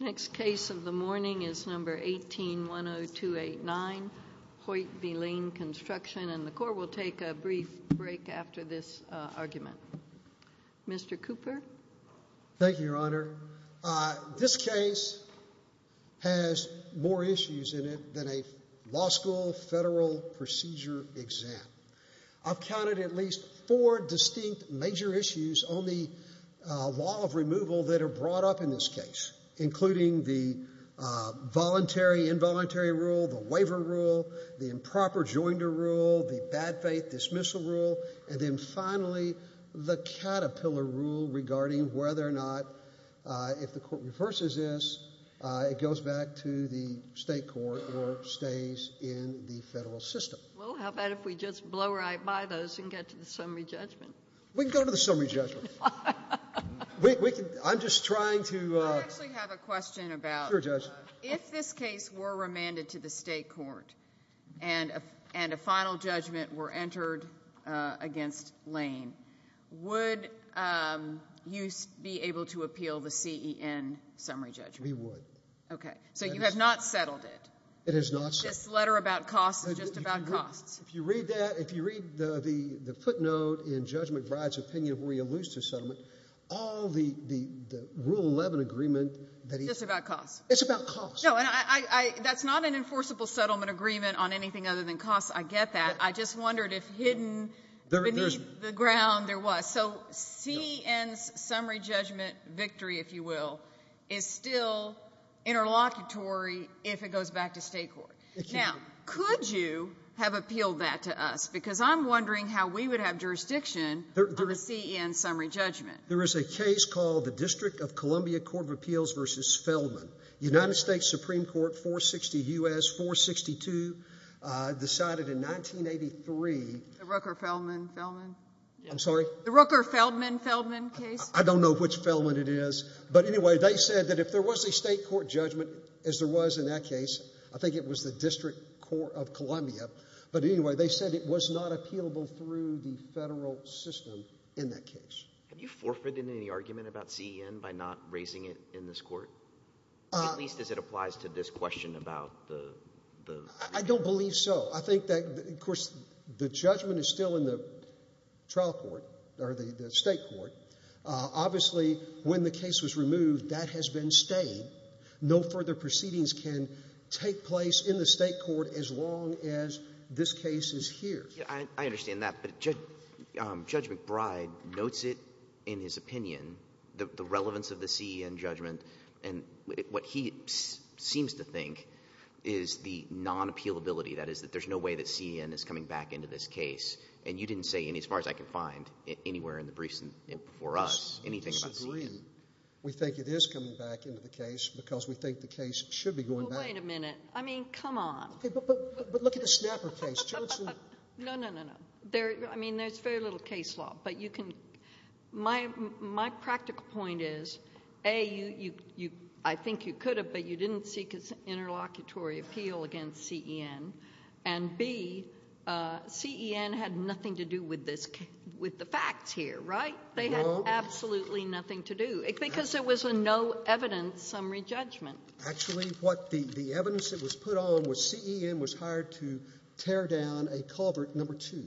Next case of the morning is number 18-10289, Hoyt v. Lane Construction Corporation. The Court will take a brief break after this argument. Mr. Cooper Thank you, Your Honor. This case has more issues in it than a law school federal procedure exam. I've counted at least four distinct major issues on the law of removal that are brought up in this case, including the voluntary-involuntary rule, the waiver rule, the improper joinder rule, the bad faith dismissal rule, and then finally, the caterpillar rule regarding whether or not if the Court reverses this, it goes back to the state court or stays in the federal system. Well, how about if we just blow right by those and get to the summary judgment? We can go to the summary judgment. I'm just trying to I actually have a question about Sure, Judge. If this case were remanded to the state court and a final judgment were entered against Lane, would you be able to appeal the CEN summary judgment? We would. Okay. So you have not settled it? It is not settled. This letter about costs is just about costs. If you read that, if you read the footnote in Judge McBride's opinion where he alludes to settlement, all the Rule 11 agreement that he It's just about costs. It's about costs. No, and that's not an enforceable settlement agreement on anything other than costs. I get that. I just wondered if hidden beneath the ground there was. So CEN's summary judgment victory, if you will, is still interlocutory if it goes back to state court. Now, could you have appealed that to us? Because I'm wondering how we would have jurisdiction on the CEN summary judgment. There is a case called the District of Columbia Court of Appeals v. Feldman. United States Supreme Court 460 U.S. 462 decided in 1983 The Rooker-Feldman? I'm sorry? The Rooker-Feldman-Feldman case? I don't know which Feldman it is. But anyway, they said that if there was a state court judgment, as there was in that case, I think it was the District Court of Columbia. But anyway, they said it was not appealable through the federal system in that case. Have you forfeited any argument about CEN by not raising it in this court? At least as it applies to this question about the I don't believe so. I think that, of course, the judgment is still in the trial court or the state court. Obviously, when the case was removed, that has been stayed. No further proceedings can take place in the state court as long as this case is here. I understand that, but Judge McBride notes it in his opinion, the relevance of the CEN judgment. And what he seems to think is the non-appealability. That is, that there's no way that CEN is coming back into this case. And you didn't say any, as far as I can find, anywhere in the briefs before us, anything about CEN. We disagree. We think it is coming back into the case because we think the case should be going back. Well, wait a minute. I mean, come on. But look at the Snapper case, Judge. No, no, no, no. I mean, there's very little case law. My practical point is, A, I think you could have, but you didn't seek an interlocutory appeal against CEN. And, B, CEN had nothing to do with the facts here, right? They had absolutely nothing to do because there was no evidence summary judgment. Actually, the evidence that was put on was CEN was hired to tear down a culvert number two.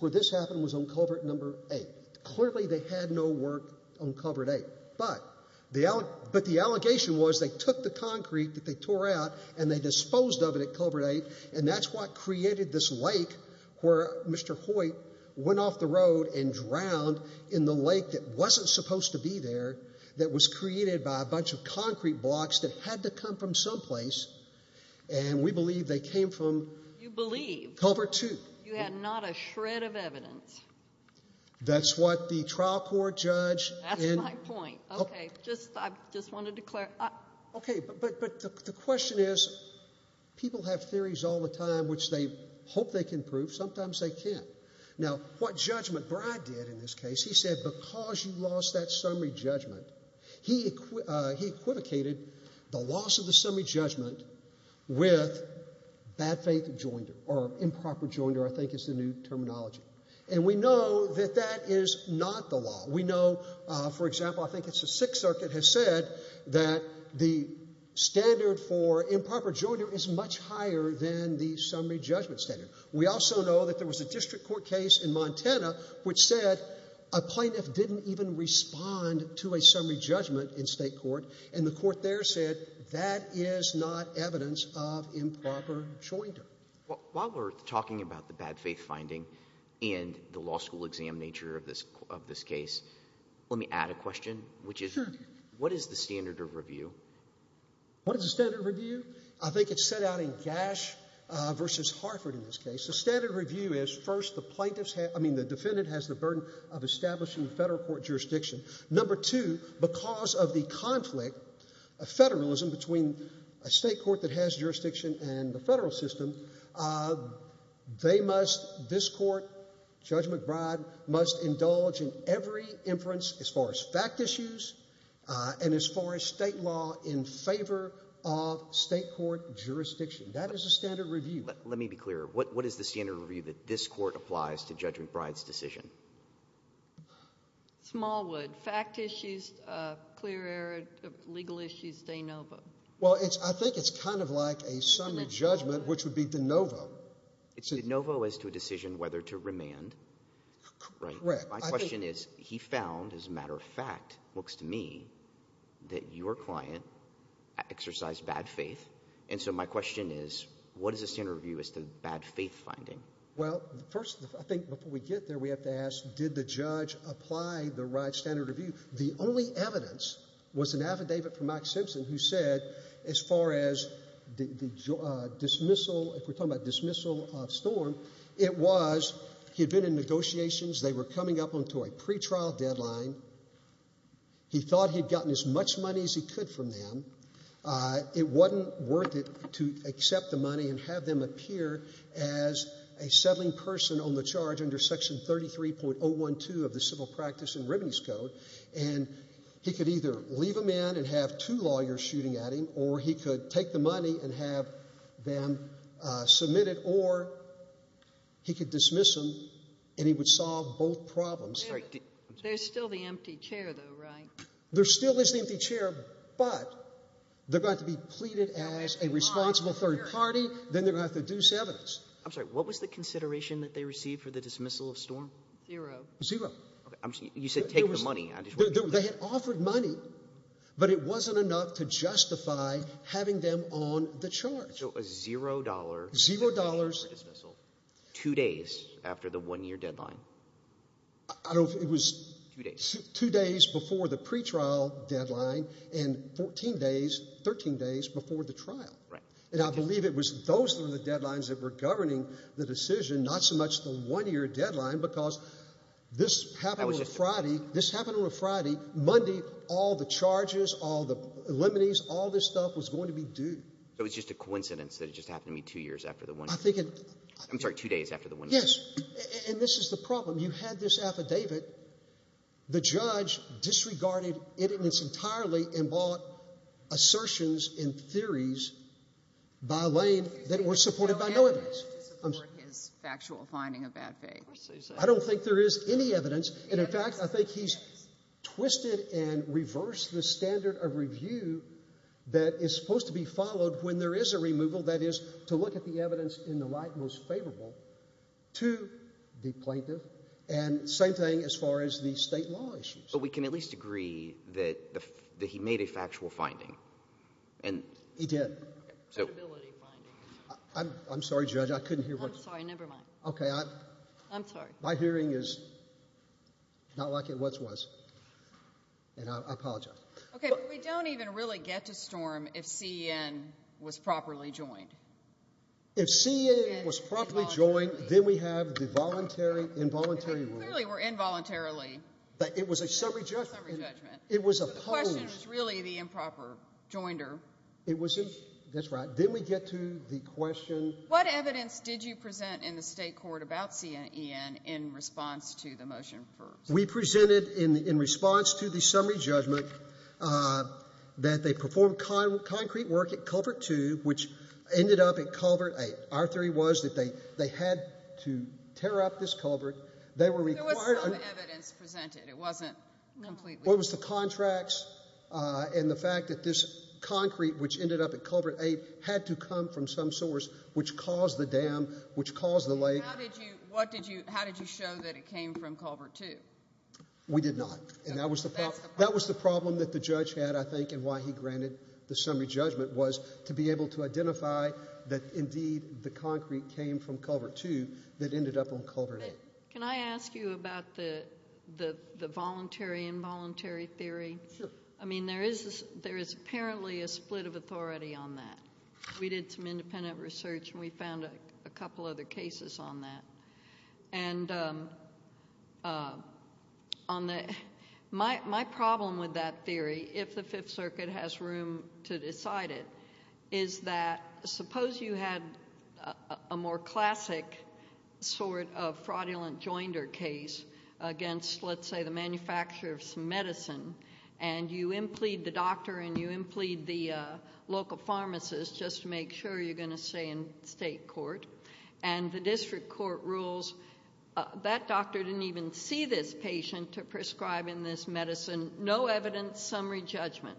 Where this happened was on culvert number eight. Clearly, they had no work on culvert eight. But the allegation was they took the concrete that they tore out and they disposed of it at culvert eight, and that's what created this lake where Mr. Hoyt went off the road and drowned in the lake that wasn't supposed to be there, that was created by a bunch of concrete blocks that had to come from someplace. And we believe they came from culvert two. You had not a shred of evidence. That's what the trial court judge. That's my point. Okay. I just wanted to clarify. Okay. But the question is, people have theories all the time which they hope they can prove. Sometimes they can't. Now, what judgment Bryde did in this case, he said because you lost that summary judgment, he equivocated the loss of the summary judgment with bad faith joinder, or improper joinder I think is the new terminology. And we know that that is not the law. We know, for example, I think it's the Sixth Circuit has said that the standard for improper joinder is much higher than the summary judgment standard. We also know that there was a district court case in Montana which said a plaintiff didn't even respond to a summary judgment in state court, and the court there said that is not evidence of improper joinder. While we're talking about the bad faith finding and the law school exam nature of this case, let me add a question, which is what is the standard of review? What is the standard of review? I think it's set out in Gash v. Harford in this case. The standard review is first the plaintiff's, I mean the defendant has the burden of establishing federal court jurisdiction. Number two, because of the conflict of federalism between a state court that has jurisdiction and the federal system, they must, this court, Judge McBride, must indulge in every inference as far as fact issues and as far as state law in favor of state court jurisdiction. That is the standard review. Let me be clear. What is the standard review that this court applies to Judge McBride's decision? Smallwood. Fact issues, clear error, legal issues, de novo. Well, I think it's kind of like a summary judgment, which would be de novo. De novo is to a decision whether to remand, right? Correct. My question is he found, as a matter of fact looks to me, that your client exercised bad faith, and so my question is what is the standard review as to bad faith finding? Well, first, I think before we get there, we have to ask did the judge apply the right standard review? The only evidence was an affidavit from Mike Simpson who said as far as the dismissal, if we're talking about dismissal of Storm, it was he had been in negotiations. They were coming up onto a pretrial deadline. He thought he'd gotten as much money as he could from them. It wasn't worth it to accept the money and have them appear as a settling person on the charge under Section 33.012 of the Civil Practice and Remedies Code, and he could either leave them in and have two lawyers shooting at him, or he could take the money and have them submitted, or he could dismiss them, and he would solve both problems. There's still the empty chair, though, right? There still is the empty chair, but they're going to be pleaded as a responsible third party. Then they're going to have to deuce evidence. I'm sorry. What was the consideration that they received for the dismissal of Storm? Zero. Zero. You said take the money. They had offered money, but it wasn't enough to justify having them on the charge. So a $0 for dismissal two days after the one-year deadline. I don't know if it was two days before the pretrial deadline and 14 days, 13 days before the trial. And I believe it was those were the deadlines that were governing the decision, not so much the one-year deadline because this happened on a Friday. This happened on a Friday. Monday, all the charges, all the remedies, all this stuff was going to be due. So it was just a coincidence that it just happened to be two years after the one-year deadline. I'm sorry, two days after the one-year deadline. Yes, and this is the problem. You had this affidavit. The judge disregarded it in its entirety and bought assertions and theories by Lane that were supported by no evidence. I don't think there is any evidence. And, in fact, I think he's twisted and reversed the standard of review that is supposed to be followed when there is a removal, that is, to look at the evidence in the light most favorable to the plaintiff. And same thing as far as the state law issues. But we can at least agree that he made a factual finding. He did. A credibility finding. I'm sorry, Judge, I couldn't hear. I'm sorry, never mind. Okay. I'm sorry. My hearing is not like it once was, and I apologize. Okay, but we don't even really get to Storm if C.E.N. was properly joined. If C.E.N. was properly joined, then we have the involuntary rule. Clearly were involuntarily. It was a summary judgment. The question was really the improper joinder. That's right. Then we get to the question. What evidence did you present in the state court about C.E.N. in response to the motion for Storm? We presented in response to the summary judgment that they performed concrete work at Culvert 2, which ended up at Culvert 8. Our theory was that they had to tear up this culvert. There was some evidence presented. It wasn't completely. What was the contracts and the fact that this concrete, which ended up at Culvert 8, had to come from some source, which caused the dam, which caused the lake. How did you show that it came from Culvert 2? We did not. That was the problem that the judge had, I think, and why he granted the summary judgment was to be able to identify that, indeed, the concrete came from Culvert 2 that ended up on Culvert 8. Can I ask you about the voluntary involuntary theory? I mean, there is apparently a split of authority on that. We did some independent research, and we found a couple other cases on that. And my problem with that theory, if the Fifth Circuit has room to decide it, is that suppose you had a more classic sort of fraudulent joinder case against, let's say, the manufacturer of some medicine, and you implead the doctor and you implead the local pharmacist just to make sure you're going to stay in state court, and the district court rules, that doctor didn't even see this patient to prescribe in this medicine, no evidence, summary judgment.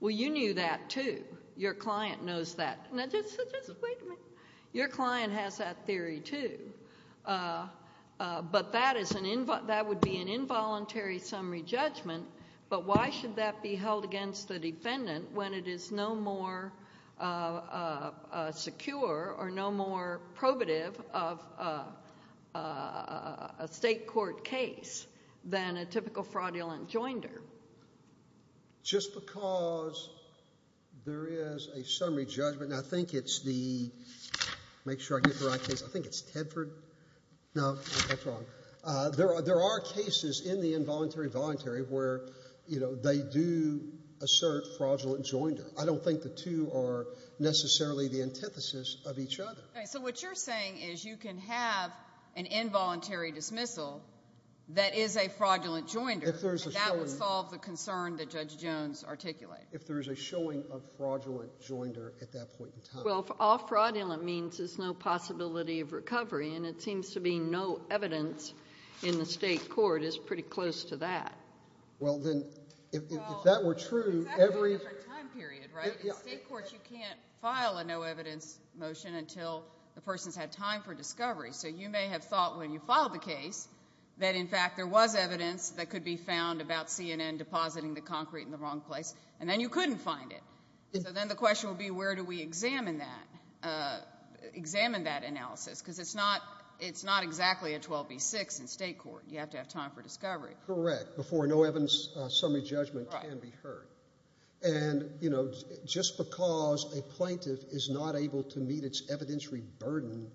Well, you knew that, too. Your client knows that. Now, just wait a minute. Your client has that theory, too. But that would be an involuntary summary judgment. But why should that be held against the defendant when it is no more secure or no more probative of a state court case than a typical fraudulent joinder? Just because there is a summary judgment. Now, I think it's the—make sure I get the right case. I think it's Tedford. No, that's wrong. There are cases in the involuntary-voluntary where, you know, they do assert fraudulent joinder. I don't think the two are necessarily the antithesis of each other. So what you're saying is you can have an involuntary dismissal that is a fraudulent joinder. If there is a showing— And that would solve the concern that Judge Jones articulated. If there is a showing of fraudulent joinder at that point in time. Well, all fraudulent means is no possibility of recovery, and it seems to be no evidence in the state court is pretty close to that. Well, then, if that were true, every— Well, it's actually a different time period, right? In state courts, you can't file a no-evidence motion until the person's had time for discovery. So you may have thought when you filed the case that, in fact, there was evidence that could be found about CNN depositing the concrete in the wrong place, and then you couldn't find it. So then the question would be where do we examine that analysis? Because it's not exactly a 12B6 in state court. You have to have time for discovery. Correct. Before a no-evidence summary judgment can be heard. And, you know, just because a plaintiff is not able to meet its evidentiary burden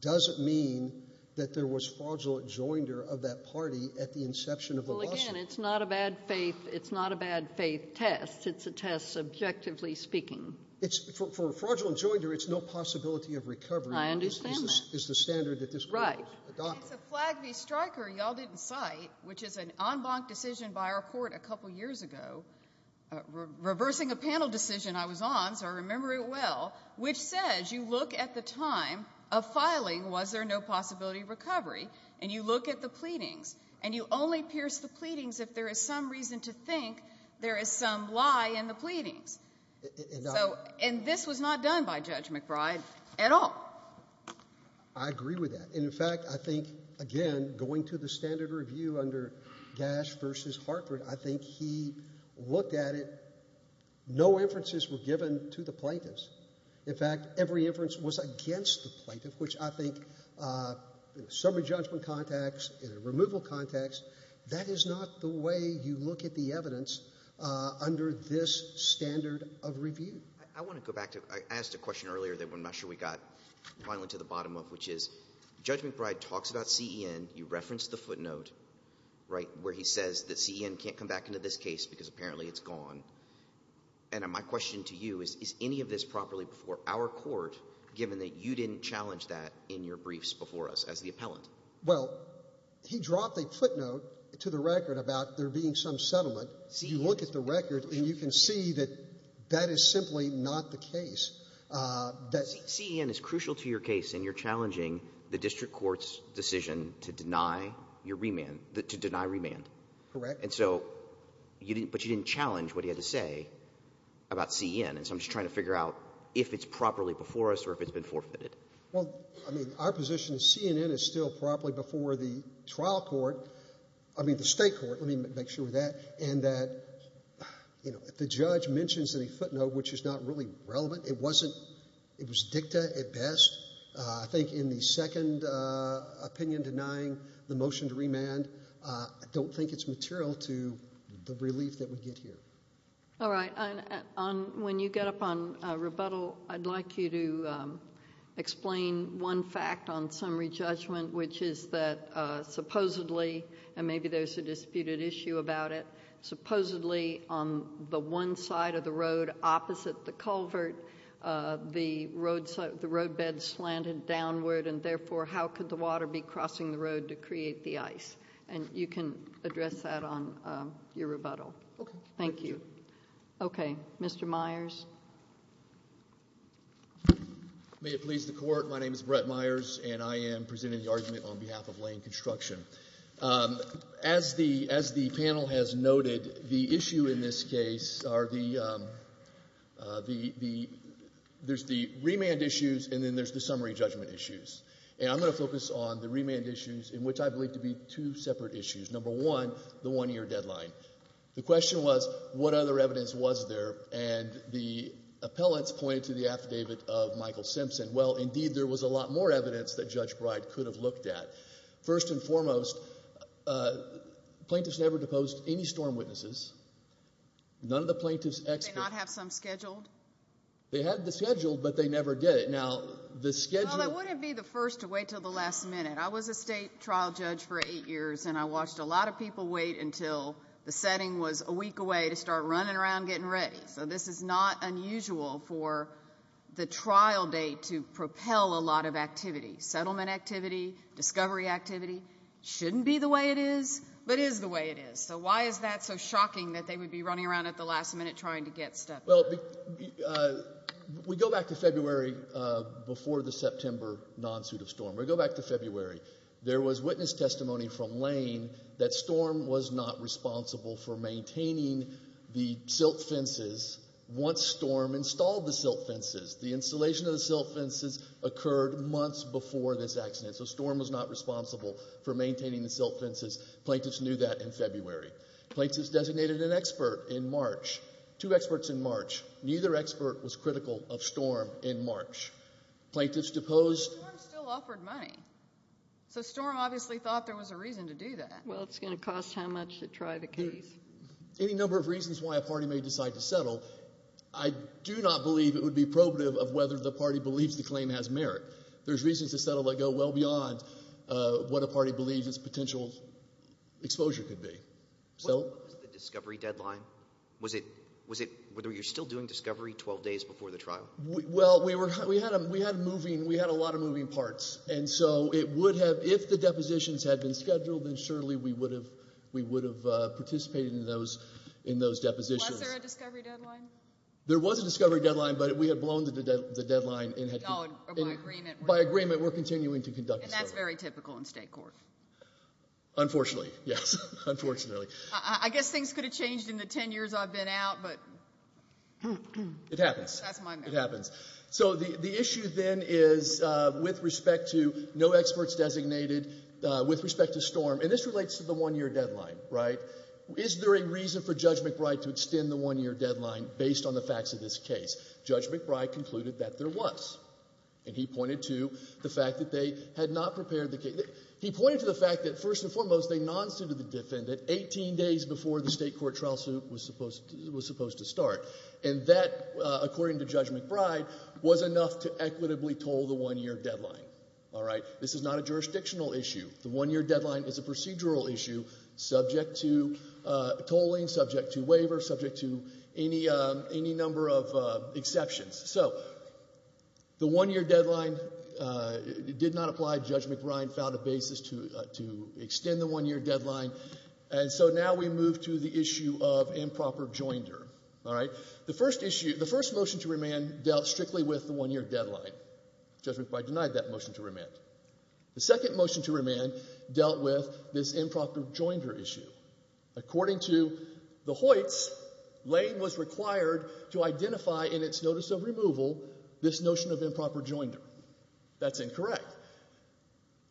doesn't mean that there was fraudulent joinder of that party at the inception of the lawsuit. Well, again, it's not a bad-faith test. It's a test, subjectively speaking. For a fraudulent joinder, it's no possibility of recovery. I understand that. Is the standard that this court adopts. Right. It's a Flagg v. Stryker y'all didn't cite, which is an en banc decision by our court a couple years ago, reversing a panel decision I was on, so I remember it well, which says you look at the time of filing, was there no possibility of recovery, and you look at the pleadings, and you only pierce the pleadings if there is some reason to think there is some lie in the pleadings. And this was not done by Judge McBride at all. I agree with that. And, in fact, I think, again, going to the standard review under Gash v. Hartford, I think he looked at it, no inferences were given to the plaintiffs. In fact, every inference was against the plaintiff, which I think in a summary judgment context, in a removal context, that is not the way you look at the evidence under this standard of review. I want to go back to, I asked a question earlier that I'm not sure we got finally to the bottom of, which is Judge McBride talks about CEN, you referenced the footnote, right, where he says that CEN can't come back into this case because apparently it's gone. And my question to you is, is any of this properly before our court, given that you didn't challenge that in your briefs before us as the appellant? Well, he dropped a footnote to the record about there being some settlement. You look at the record, and you can see that that is simply not the case. CEN is crucial to your case, and you're challenging the district court's decision to deny your remand, to deny remand. Correct. And so, but you didn't challenge what he had to say about CEN. And so I'm just trying to figure out if it's properly before us or if it's been forfeited. Well, I mean, our position is CEN is still properly before the trial court, I mean the state court, let me make sure of that, and that, you know, if the judge mentions any footnote which is not really relevant, it wasn't, it was dicta at best. I think in the second opinion denying the motion to remand, I don't think it's material to the relief that we get here. All right. When you get up on rebuttal, I'd like you to explain one fact on summary judgment, which is that supposedly, and maybe there's a disputed issue about it, supposedly on the one side of the road opposite the culvert, the road bed slanted downward, and therefore how could the water be crossing the road to create the ice? And you can address that on your rebuttal. Okay. Thank you. Okay. Mr. Myers? May it please the Court, my name is Brett Myers, and I am presenting the argument on behalf of Lane Construction. As the panel has noted, the issue in this case are the, there's the remand issues and then there's the summary judgment issues. And I'm going to focus on the remand issues in which I believe to be two separate issues. Number one, the one-year deadline. The question was, what other evidence was there? And the appellants pointed to the affidavit of Michael Simpson. Well, indeed, there was a lot more evidence that Judge Breid could have looked at. First and foremost, plaintiffs never deposed any storm witnesses. None of the plaintiffs' experts. Did they not have some scheduled? They had the schedule, but they never did it. Now, the schedule. Well, I wouldn't be the first to wait until the last minute. I was a state trial judge for eight years, and I watched a lot of people wait until the setting was a week away to start running around getting ready. So this is not unusual for the trial date to propel a lot of activity. Settlement activity, discovery activity shouldn't be the way it is, but is the way it is. So why is that so shocking that they would be running around at the last minute trying to get stuff done? Well, we go back to February before the September non-suit of storm. We go back to February. There was witness testimony from Lane that storm was not responsible for maintaining the silt fences once storm installed the silt fences. The installation of the silt fences occurred months before this accident, so storm was not responsible for maintaining the silt fences. Plaintiffs knew that in February. Plaintiffs designated an expert in March, two experts in March. Neither expert was critical of storm in March. Plaintiffs deposed. But storm still offered money. So storm obviously thought there was a reason to do that. Well, it's going to cost how much to try the case. Any number of reasons why a party may decide to settle, I do not believe it would be probative of whether the party believes the claim has merit. There's reasons to settle that go well beyond what a party believes its potential exposure could be. Was it the discovery deadline? Was it whether you're still doing discovery 12 days before the trial? Well, we had a lot of moving parts, and so it would have, if the depositions had been scheduled, then surely we would have participated in those depositions. Was there a discovery deadline? There was a discovery deadline, but we had blown the deadline. Oh, by agreement. By agreement, we're continuing to conduct discovery. And that's very typical in state court. Unfortunately, yes, unfortunately. I guess things could have changed in the ten years I've been out, but that's my memory. It happens. So the issue then is with respect to no experts designated, with respect to Storm, and this relates to the one-year deadline, right? Is there a reason for Judge McBride to extend the one-year deadline based on the facts of this case? Judge McBride concluded that there was, and he pointed to the fact that they had not prepared the case. He pointed to the fact that, first and foremost, they non-suited the defendant 18 days before the state court trial suit was supposed to start. And that, according to Judge McBride, was enough to equitably toll the one-year deadline, all right? This is not a jurisdictional issue. The one-year deadline is a procedural issue subject to tolling, subject to waiver, subject to any number of exceptions. So the one-year deadline did not apply. Judge McBride filed a basis to extend the one-year deadline. And so now we move to the issue of improper joinder, all right? The first issue, the first motion to remand dealt strictly with the one-year deadline. Judge McBride denied that motion to remand. The second motion to remand dealt with this improper joinder issue. According to the Hoyts, Lane was required to identify in its notice of removal this notion of improper joinder. That's incorrect.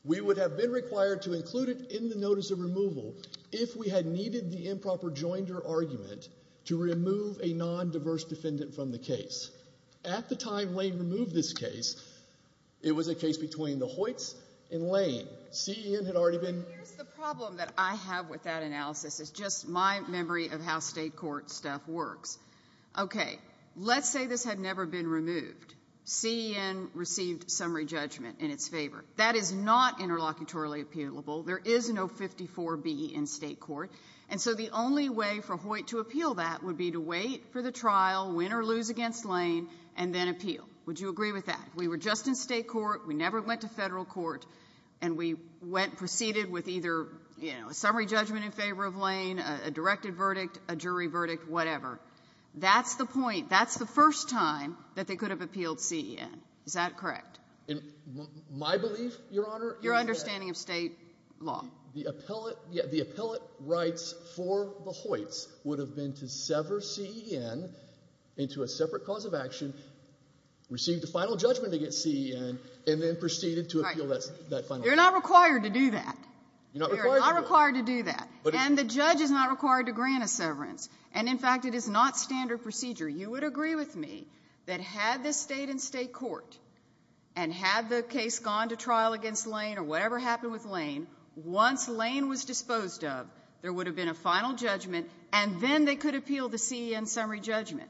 We would have been required to include it in the notice of removal if we had needed the improper joinder argument to remove a non-diverse defendant from the case. At the time Lane removed this case, it was a case between the Hoyts and Lane. CEN had already been— Here's the problem that I have with that analysis. It's just my memory of how state court stuff works. Okay, let's say this had never been removed. CEN received summary judgment in its favor. That is not interlocutorily appealable. There is no 54B in state court. And so the only way for Hoyt to appeal that would be to wait for the trial, win or lose against Lane, and then appeal. Would you agree with that? We were just in state court. We never went to federal court. And we proceeded with either a summary judgment in favor of Lane, a directed verdict, a jury verdict, whatever. That's the point. That's the first time that they could have appealed CEN. Is that correct? In my belief, Your Honor— Your understanding of state law. The appellate rights for the Hoyts would have been to sever CEN into a separate cause of action, receive the final judgment against CEN, and then proceed to appeal that final judgment. You're not required to do that. You're not required to do that. You're not required to do that. And the judge is not required to grant a severance. And, in fact, it is not standard procedure. You would agree with me that had this stayed in state court and had the case gone to trial against Lane or whatever happened with Lane, once Lane was disposed of, there would have been a final judgment, and then they could appeal the CEN summary judgment.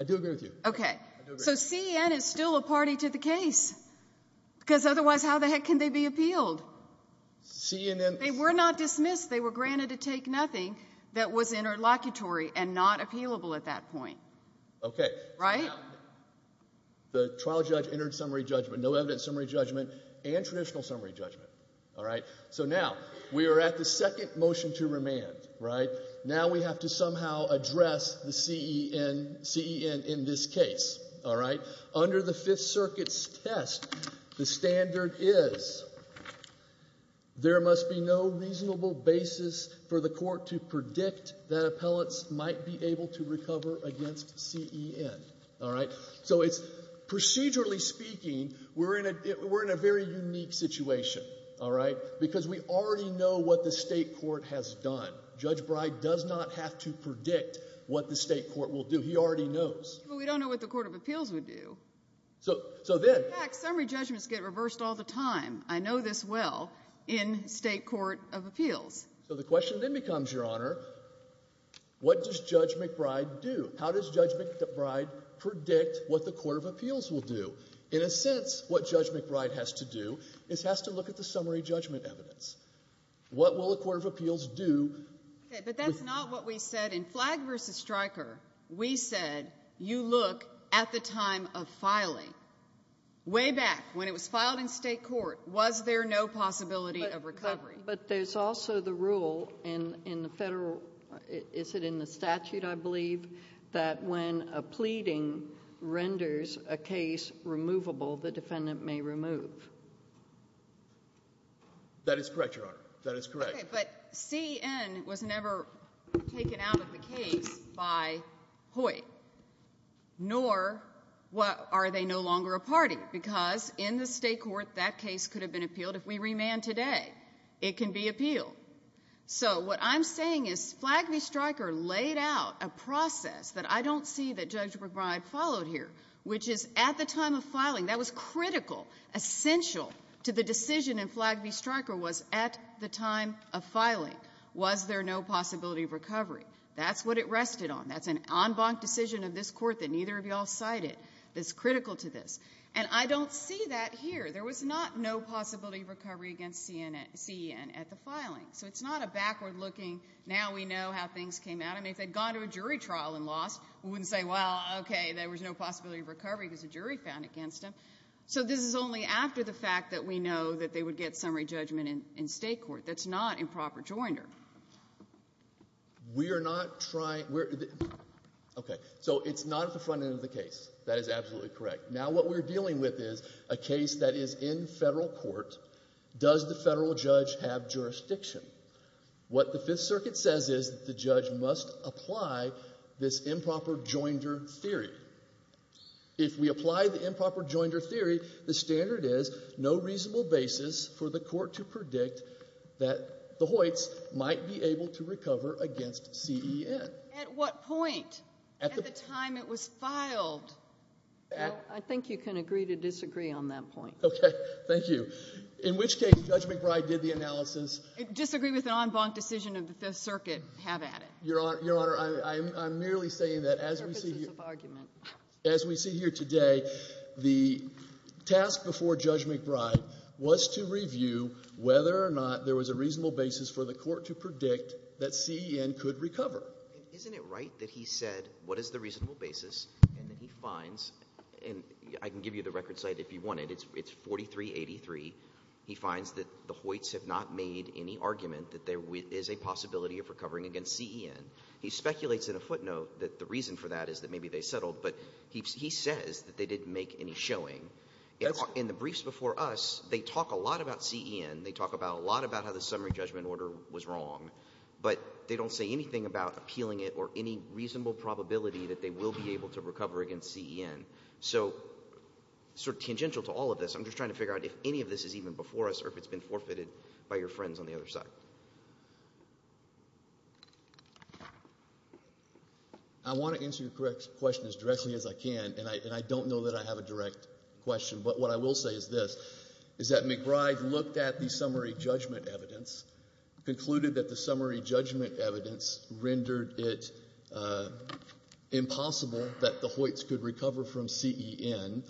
I do agree with you. Okay. So CEN is still a party to the case, because otherwise how the heck can they be appealed? CEN— They were not dismissed. They were granted to take nothing that was interlocutory and not appealable at that point. Okay. Right? Now, the trial judge entered summary judgment. No evidence of summary judgment and traditional summary judgment. All right? So now we are at the second motion to remand. Right? Now we have to somehow address the CEN in this case. All right? So under the Fifth Circuit's test, the standard is there must be no reasonable basis for the court to predict that appellants might be able to recover against CEN. All right? So it's—procedurally speaking, we're in a very unique situation. All right? Because we already know what the state court has done. Judge Brey does not have to predict what the state court will do. He already knows. But we don't know what the court of appeals would do. So then— In fact, summary judgments get reversed all the time. I know this well in state court of appeals. So the question then becomes, Your Honor, what does Judge McBride do? How does Judge McBride predict what the court of appeals will do? In a sense, what Judge McBride has to do is has to look at the summary judgment evidence. What will the court of appeals do— Okay, but that's not what we said in Flag v. Stryker. We said you look at the time of filing. Way back when it was filed in state court, was there no possibility of recovery? But there's also the rule in the federal—is it in the statute, I believe, that when a pleading renders a case removable, the defendant may remove. That is correct, Your Honor. That is correct. Okay, but C.E.N. was never taken out of the case by Hoyt, nor are they no longer a party, because in the state court, that case could have been appealed. If we remand today, it can be appealed. So what I'm saying is Flag v. Stryker laid out a process that I don't see that Judge McBride followed here, which is at the time of filing. That was critical, essential to the decision in Flag v. Stryker was at the time of filing. Was there no possibility of recovery? That's what it rested on. That's an en banc decision of this Court that neither of you all cited that's critical to this. And I don't see that here. There was not no possibility of recovery against C.E.N. at the filing. So it's not a backward-looking, now we know how things came out. I mean, if they'd gone to a jury trial and lost, we wouldn't say, well, okay, there was no possibility of recovery because a jury found against him. So this is only after the fact that we know that they would get summary judgment in state court. That's not improper joinder. We are not trying to – okay. So it's not at the front end of the case. That is absolutely correct. Now what we're dealing with is a case that is in federal court. Does the federal judge have jurisdiction? What the Fifth Circuit says is that the judge must apply this improper joinder theory. If we apply the improper joinder theory, the standard is no reasonable basis for the court to predict that the Hoyts might be able to recover against C.E.N. At what point? At the time it was filed. I think you can agree to disagree on that point. Okay. Thank you. In which case, Judge McBride did the analysis. Disagree with an en banc decision of the Fifth Circuit, have at it. Your Honor, I'm merely saying that as we see here today, the task before Judge McBride was to review whether or not there was a reasonable basis for the court to predict that C.E.N. could recover. Isn't it right that he said what is the reasonable basis and that he finds – and I can give you the record site if you want it. It's 4383. He finds that the Hoyts have not made any argument that there is a possibility of recovering against C.E.N. He speculates in a footnote that the reason for that is that maybe they settled, but he says that they didn't make any showing. In the briefs before us, they talk a lot about C.E.N. They talk a lot about how the summary judgment order was wrong, but they don't say anything about appealing it or any reasonable probability that they will be able to recover against C.E.N. So sort of tangential to all of this, I'm just trying to figure out if any of this is even before us or if it's been forfeited by your friends on the other side. I want to answer your question as directly as I can, and I don't know that I have a direct question. But what I will say is this, is that McBride looked at the summary judgment evidence, concluded that the summary judgment evidence rendered it impossible that the Hoyts could recover from C.E.N.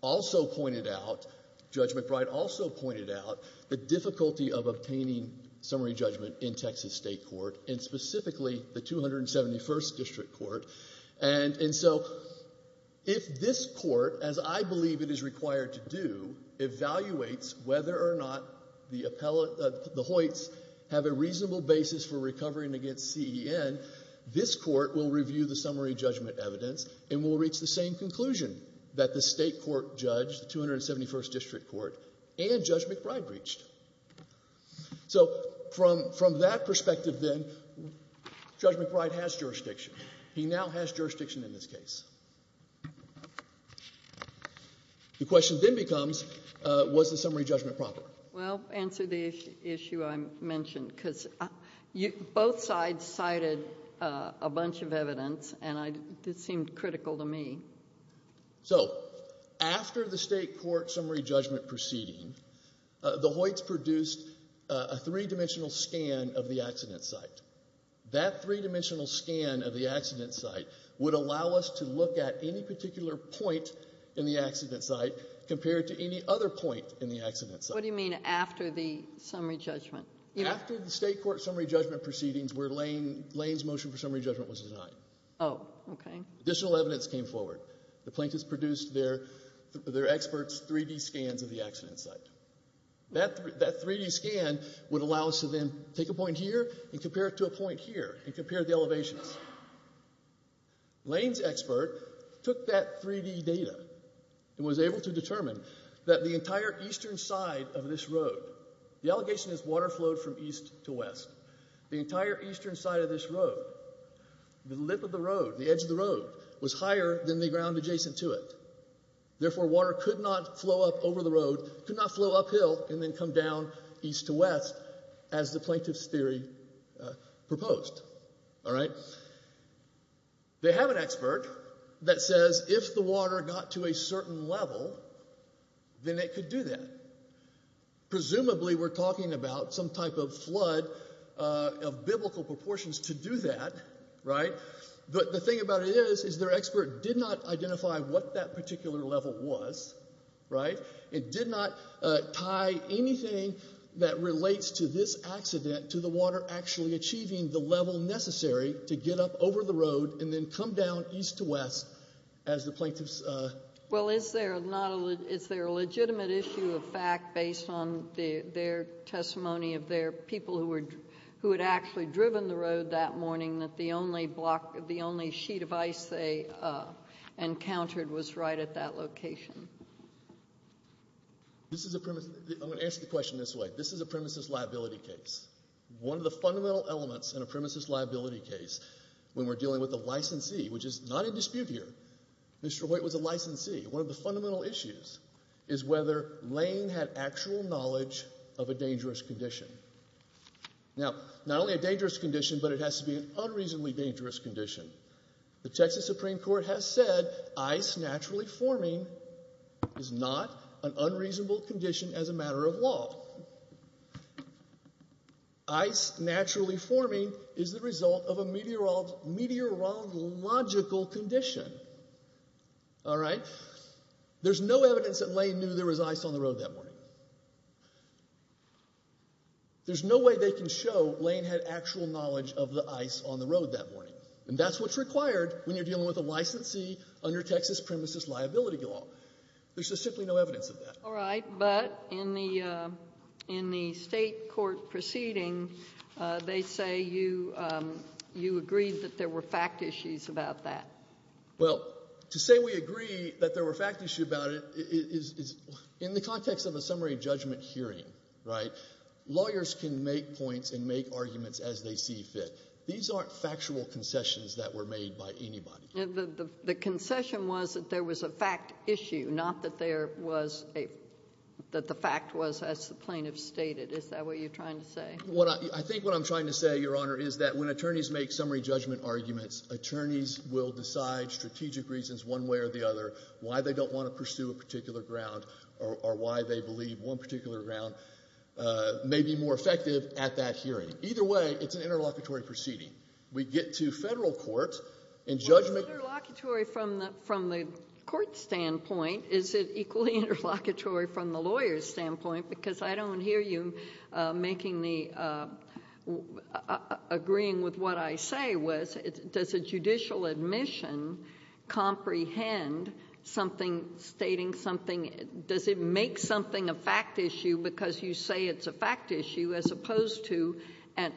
Also pointed out, Judge McBride also pointed out the difficulty of obtaining summary judgment in Texas State Court, and specifically the 271st District Court. And so if this court, as I believe it is required to do, evaluates whether or not the Hoyts have a reasonable basis for recovering against C.E.N., this court will review the summary judgment evidence and will reach the same conclusion that the State Court judge, the 271st District Court, and Judge McBride reached. So from that perspective then, Judge McBride has jurisdiction. He now has jurisdiction in this case. The question then becomes, was the summary judgment proper? Well, answer the issue I mentioned, because both sides cited a bunch of evidence, and it seemed critical to me. So after the State Court summary judgment proceeding, the Hoyts produced a three-dimensional scan of the accident site. That three-dimensional scan of the accident site would allow us to look at any particular point in the accident site compared to any other point in the accident site. What do you mean after the summary judgment? After the State Court summary judgment proceedings where Lane's motion for summary judgment was denied. Oh, okay. Additional evidence came forward. The plaintiffs produced their experts' 3D scans of the accident site. That 3D scan would allow us to then take a point here and compare it to a point here and compare the elevations. Lane's expert took that 3D data and was able to determine that the entire eastern side of this road, the allegation is water flowed from east to west, the entire eastern side of this road, the lip of the road, the edge of the road, was higher than the ground adjacent to it. Therefore, water could not flow up over the road, could not flow uphill, and then come down east to west, as the plaintiff's theory proposed. All right? They have an expert that says if the water got to a certain level, then it could do that. Presumably, we're talking about some type of flood of biblical proportions to do that, right? But the thing about it is, is their expert did not identify what that particular level was, right? It did not tie anything that relates to this accident to the water actually achieving the level necessary to get up over the road and then come down east to west as the plaintiff's… Well, is there a legitimate issue of fact based on their testimony of their people who had actually driven the road that morning that the only sheet of ice they encountered was right at that location? I'm going to answer the question this way. This is a premises liability case. One of the fundamental elements in a premises liability case when we're dealing with a licensee, which is not in dispute here, Mr. Hoyt was a licensee. One of the fundamental issues is whether Lane had actual knowledge of a dangerous condition. Now, not only a dangerous condition, but it has to be an unreasonably dangerous condition. The Texas Supreme Court has said ice naturally forming is not an unreasonable condition as a matter of law. Ice naturally forming is the result of a meteorological condition. All right? There's no evidence that Lane knew there was ice on the road that morning. There's no way they can show Lane had actual knowledge of the ice on the road that morning, and that's what's required when you're dealing with a licensee under Texas premises liability law. There's just simply no evidence of that. All right, but in the state court proceeding, they say you agreed that there were fact issues about that. Well, to say we agree that there were fact issues about it is in the context of a summary judgment hearing. Right? Lawyers can make points and make arguments as they see fit. These aren't factual concessions that were made by anybody. The concession was that there was a fact issue, not that there was a – that the fact was as the plaintiff stated. Is that what you're trying to say? I think what I'm trying to say, Your Honor, is that when attorneys make summary judgment arguments, attorneys will decide strategic reasons one way or the other why they don't want to pursue a particular ground or why they believe one particular ground may be more effective at that hearing. Either way, it's an interlocutory proceeding. We get to federal court and judgment. Well, is it interlocutory from the court standpoint? Is it equally interlocutory from the lawyer's standpoint? Because I don't hear you making the – agreeing with what I say was does a judicial admission comprehend something stating something? Does it make something a fact issue because you say it's a fact issue as opposed to an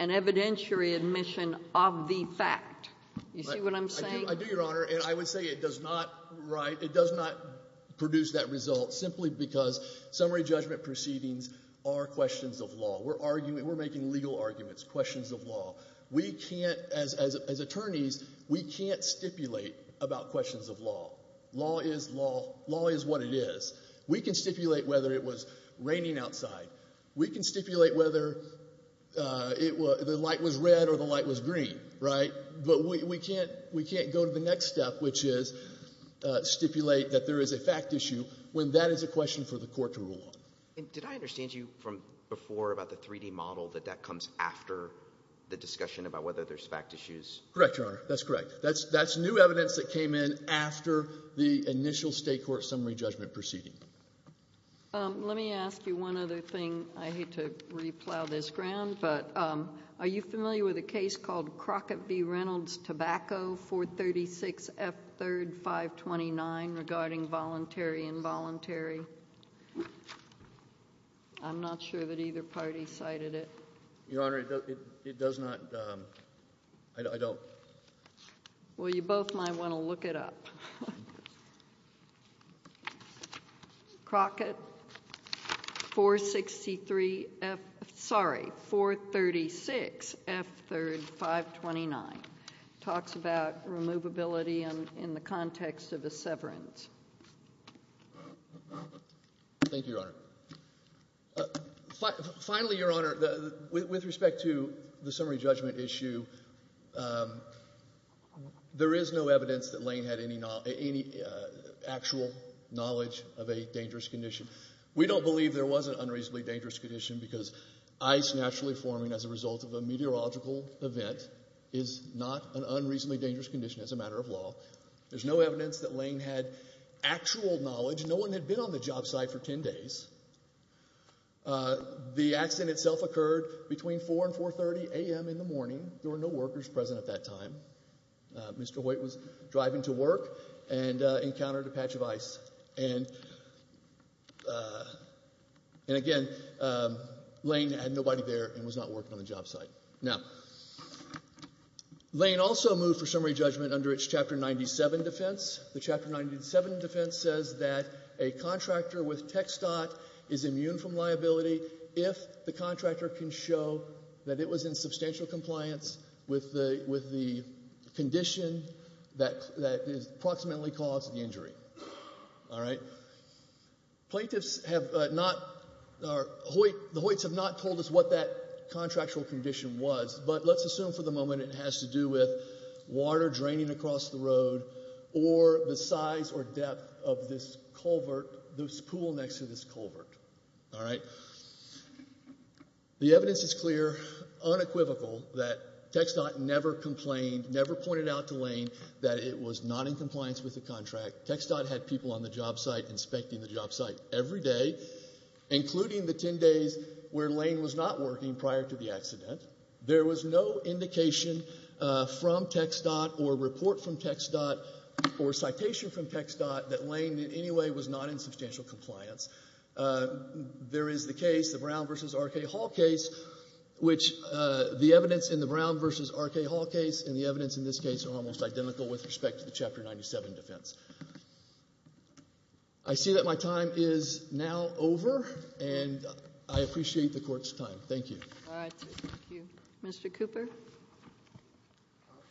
evidentiary admission of the fact? You see what I'm saying? I do, Your Honor. And I would say it does not – right? It does not produce that result simply because summary judgment proceedings are questions of law. We're arguing – we're making legal arguments, questions of law. We can't – as attorneys, we can't stipulate about questions of law. Law is law. Law is what it is. We can stipulate whether it was raining outside. We can stipulate whether the light was red or the light was green, right? But we can't – we can't go to the next step, which is stipulate that there is a fact issue when that is a question for the court to rule on. And did I understand you from before about the 3D model, that that comes after the discussion about whether there's fact issues? Correct, Your Honor. That's correct. That's new evidence that came in after the initial state court summary judgment proceeding. Let me ask you one other thing. I hate to re-plow this ground, but are you familiar with a case called Crockett v. Reynolds, Tobacco, 436F3-529, regarding voluntary involuntary? I'm not sure that either party cited it. Your Honor, it does not – I don't. Well, you both might want to look it up. Crockett, 463F – sorry, 436F3-529 talks about removability in the context of a severance. Finally, Your Honor, with respect to the summary judgment issue, there is no evidence that Lane had any actual knowledge of a dangerous condition. We don't believe there was an unreasonably dangerous condition because ice naturally forming as a result of a meteorological event is not an unreasonably dangerous condition as a matter of law. There's no evidence that Lane had actual knowledge. No one had been on the job site for 10 days. The accident itself occurred between 4 and 4.30 a.m. in the morning. There were no workers present at that time. Mr. Hoyt was driving to work and encountered a patch of ice. And again, Lane had nobody there and was not working on the job site. Now, Lane also moved for summary judgment under its Chapter 97 defense. The Chapter 97 defense says that a contractor with TxDOT is immune from liability if the contractor can show that it was in substantial compliance with the condition that approximately caused the injury. The Hoyts have not told us what that contractual condition was, but let's assume for the moment it has to do with water draining across the road or the size or depth of this pool next to this culvert. The evidence is clear, unequivocal, that TxDOT never complained, never pointed out to Lane that it was not in compliance with the contract. TxDOT had people on the job site inspecting the job site every day, including the 10 days where Lane was not working prior to the accident. There was no indication from TxDOT or report from TxDOT or citation from TxDOT that Lane in any way was not in substantial compliance. There is the case, the Brown v. R.K. Hall case, which the evidence in the Brown v. R.K. Hall case and the evidence in this case are almost identical with respect to the Chapter 97 defense. I see that my time is now over, and I appreciate the Court's time. Thank you. All right. Thank you. Mr. Cooper?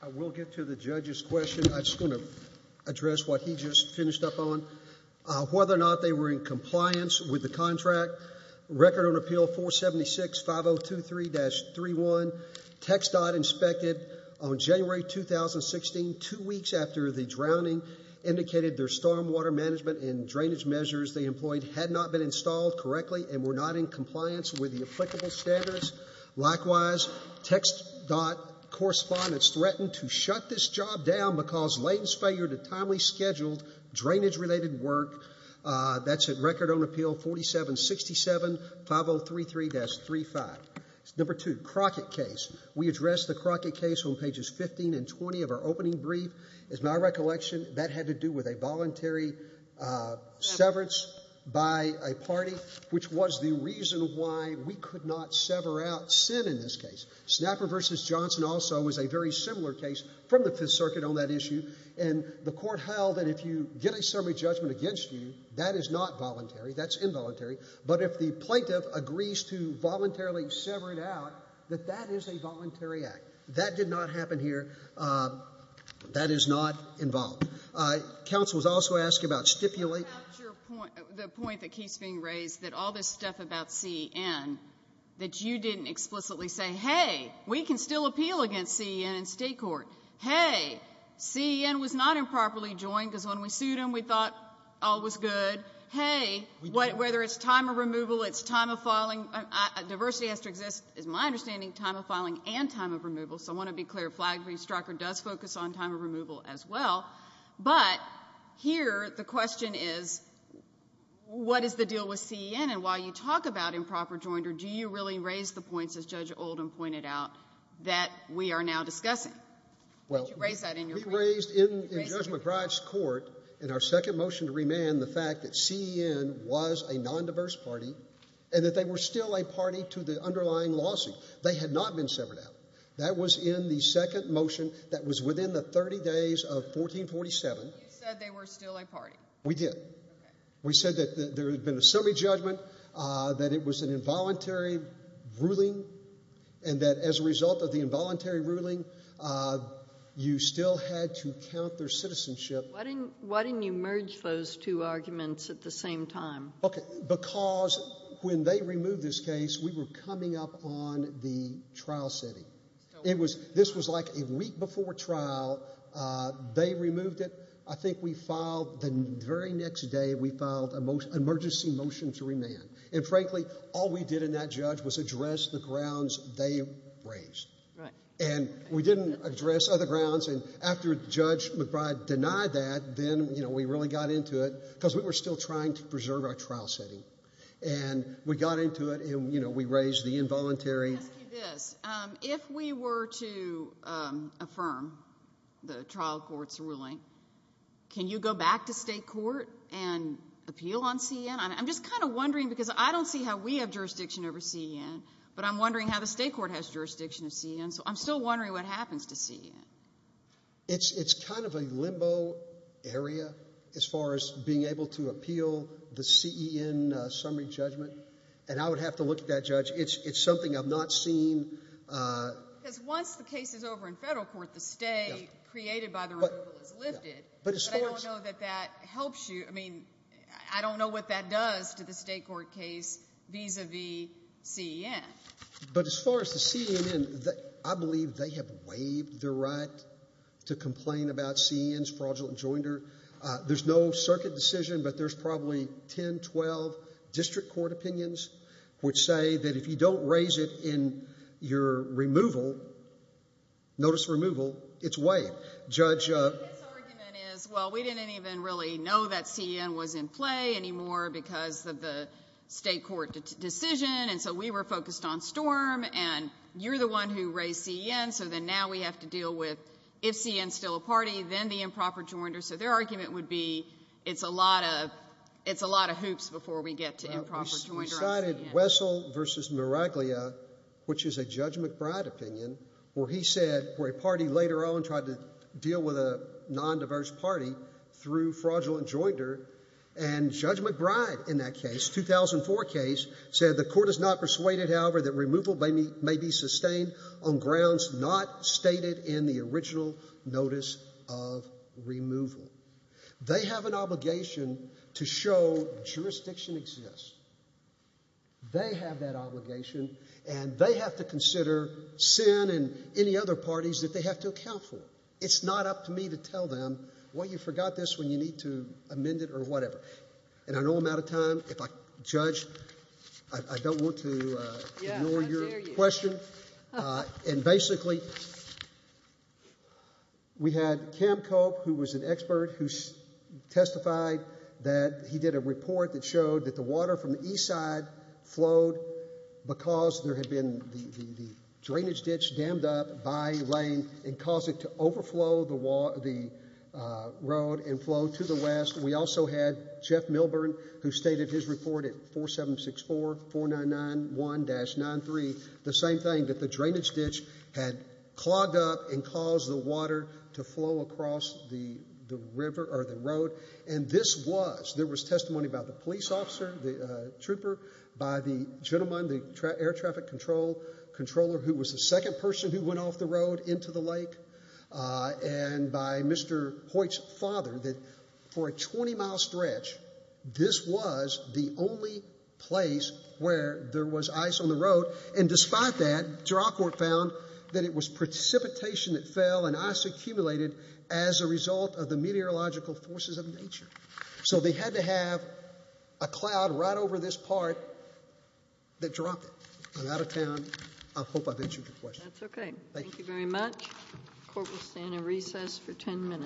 I will get to the judge's question. I just want to address what he just finished up on, whether or not they were in compliance with the contract, Record on Appeal 476-5023-31. TxDOT inspected on January 2016, two weeks after the drowning indicated their stormwater management and drainage measures they employed had not been installed correctly and were not in compliance with the applicable standards. Likewise, TxDOT correspondents threatened to shut this job down because Lane's failure to timely schedule drainage-related work. That's at Record on Appeal 4767-5033-35. Number two, Crockett case. We addressed the Crockett case on pages 15 and 20 of our opening brief. As my recollection, that had to do with a voluntary severance by a party, which was the reason why we could not sever out sin in this case. Snapper v. Johnson also was a very similar case from the Fifth Circuit on that issue, and the court held that if you get a summary judgment against you, that is not voluntary, that's involuntary. But if the plaintiff agrees to voluntarily sever it out, that that is a voluntary act. That did not happen here. That is not involved. Counsel was also asked about stipulate. The point that keeps being raised, that all this stuff about C.E.N., that you didn't explicitly say, hey, we can still appeal against C.E.N. in state court. Hey, C.E.N. was not improperly joined, because when we sued him, we thought all was good. Hey, whether it's time of removal, it's time of filing. Diversity has to exist, is my understanding, time of filing and time of removal. So I want to be clear. Flag v. Stryker does focus on time of removal as well. But here the question is, what is the deal with C.E.N.? And while you talk about improper joinder, do you really raise the points, as Judge Oldham pointed out, that we are now discussing? Well, we raised in Judge McBride's court in our second motion to remand the fact that C.E.N. was a nondiverse party and that they were still a party to the underlying lawsuit. They had not been severed out. That was in the second motion that was within the 30 days of 1447. You said they were still a party. We did. We said that there had been a summary judgment, that it was an involuntary ruling, and that as a result of the involuntary ruling, you still had to count their citizenship. Why didn't you merge those two arguments at the same time? Because when they removed this case, we were coming up on the trial setting. This was like a week before trial. They removed it. I think we filed the very next day, we filed an emergency motion to remand. And, frankly, all we did in that judge was address the grounds they raised. Right. And we didn't address other grounds. And after Judge McBride denied that, then we really got into it because we were still trying to preserve our trial setting. And we got into it, and we raised the involuntary. Let me ask you this. If we were to affirm the trial court's ruling, can you go back to state court and appeal on CEN? I'm just kind of wondering because I don't see how we have jurisdiction over CEN, but I'm wondering how the state court has jurisdiction of CEN. So I'm still wondering what happens to CEN. It's kind of a limbo area as far as being able to appeal the CEN summary judgment, and I would have to look at that judge. It's something I've not seen. Because once the case is over in federal court, the stay created by the removal is lifted. But I don't know that that helps you. I mean, I don't know what that does to the state court case vis-a-vis CEN. But as far as the CEN, I believe they have waived their right to complain about CEN's fraudulent joinder. There's no circuit decision, but there's probably 10, 12 district court opinions which say that if you don't raise it in your removal, notice removal, it's waived. Judge? His argument is, well, we didn't even really know that CEN was in play anymore because of the state court decision, and so we were focused on Storm, and you're the one who raised CEN, so then now we have to deal with if CEN's still a party, then the improper joinder. So their argument would be it's a lot of hoops before we get to improper joinder. We cited Wessel v. Miraglia, which is a Judge McBride opinion, where he said where a party later on tried to deal with a nondiverse party through fraudulent joinder, and Judge McBride in that case, 2004 case, said the court is not persuaded, however, that removal may be sustained on grounds not stated in the original notice of removal. They have an obligation to show jurisdiction exists. They have that obligation, and they have to consider CEN and any other parties that they have to account for. It's not up to me to tell them, well, you forgot this when you need to amend it or whatever. And I know I'm out of time. If I judge, I don't want to ignore your question. And basically we had Cam Cope, who was an expert, who testified that he did a report that showed that the water from the east side flowed because there had been the drainage ditch dammed up by a lane and caused it to overflow the road and flow to the west. We also had Jeff Milburn, who stated his report at 4764-4991-93, the same thing, that the drainage ditch had clogged up and caused the water to flow across the road. And this was, there was testimony by the police officer, the trooper, by the gentleman, the air traffic controller, who was the second person who went off the road into the lake, and by Mr. Hoyt's father, that for a 20-mile stretch, this was the only place where there was ice on the road. And despite that, Durant Court found that it was precipitation that fell and ice accumulated as a result of the meteorological forces of nature. So they had to have a cloud right over this part that dropped it. I'm out of time. I hope I've answered your question. That's okay. Thank you very much. Court will stand in recess for 10 minutes.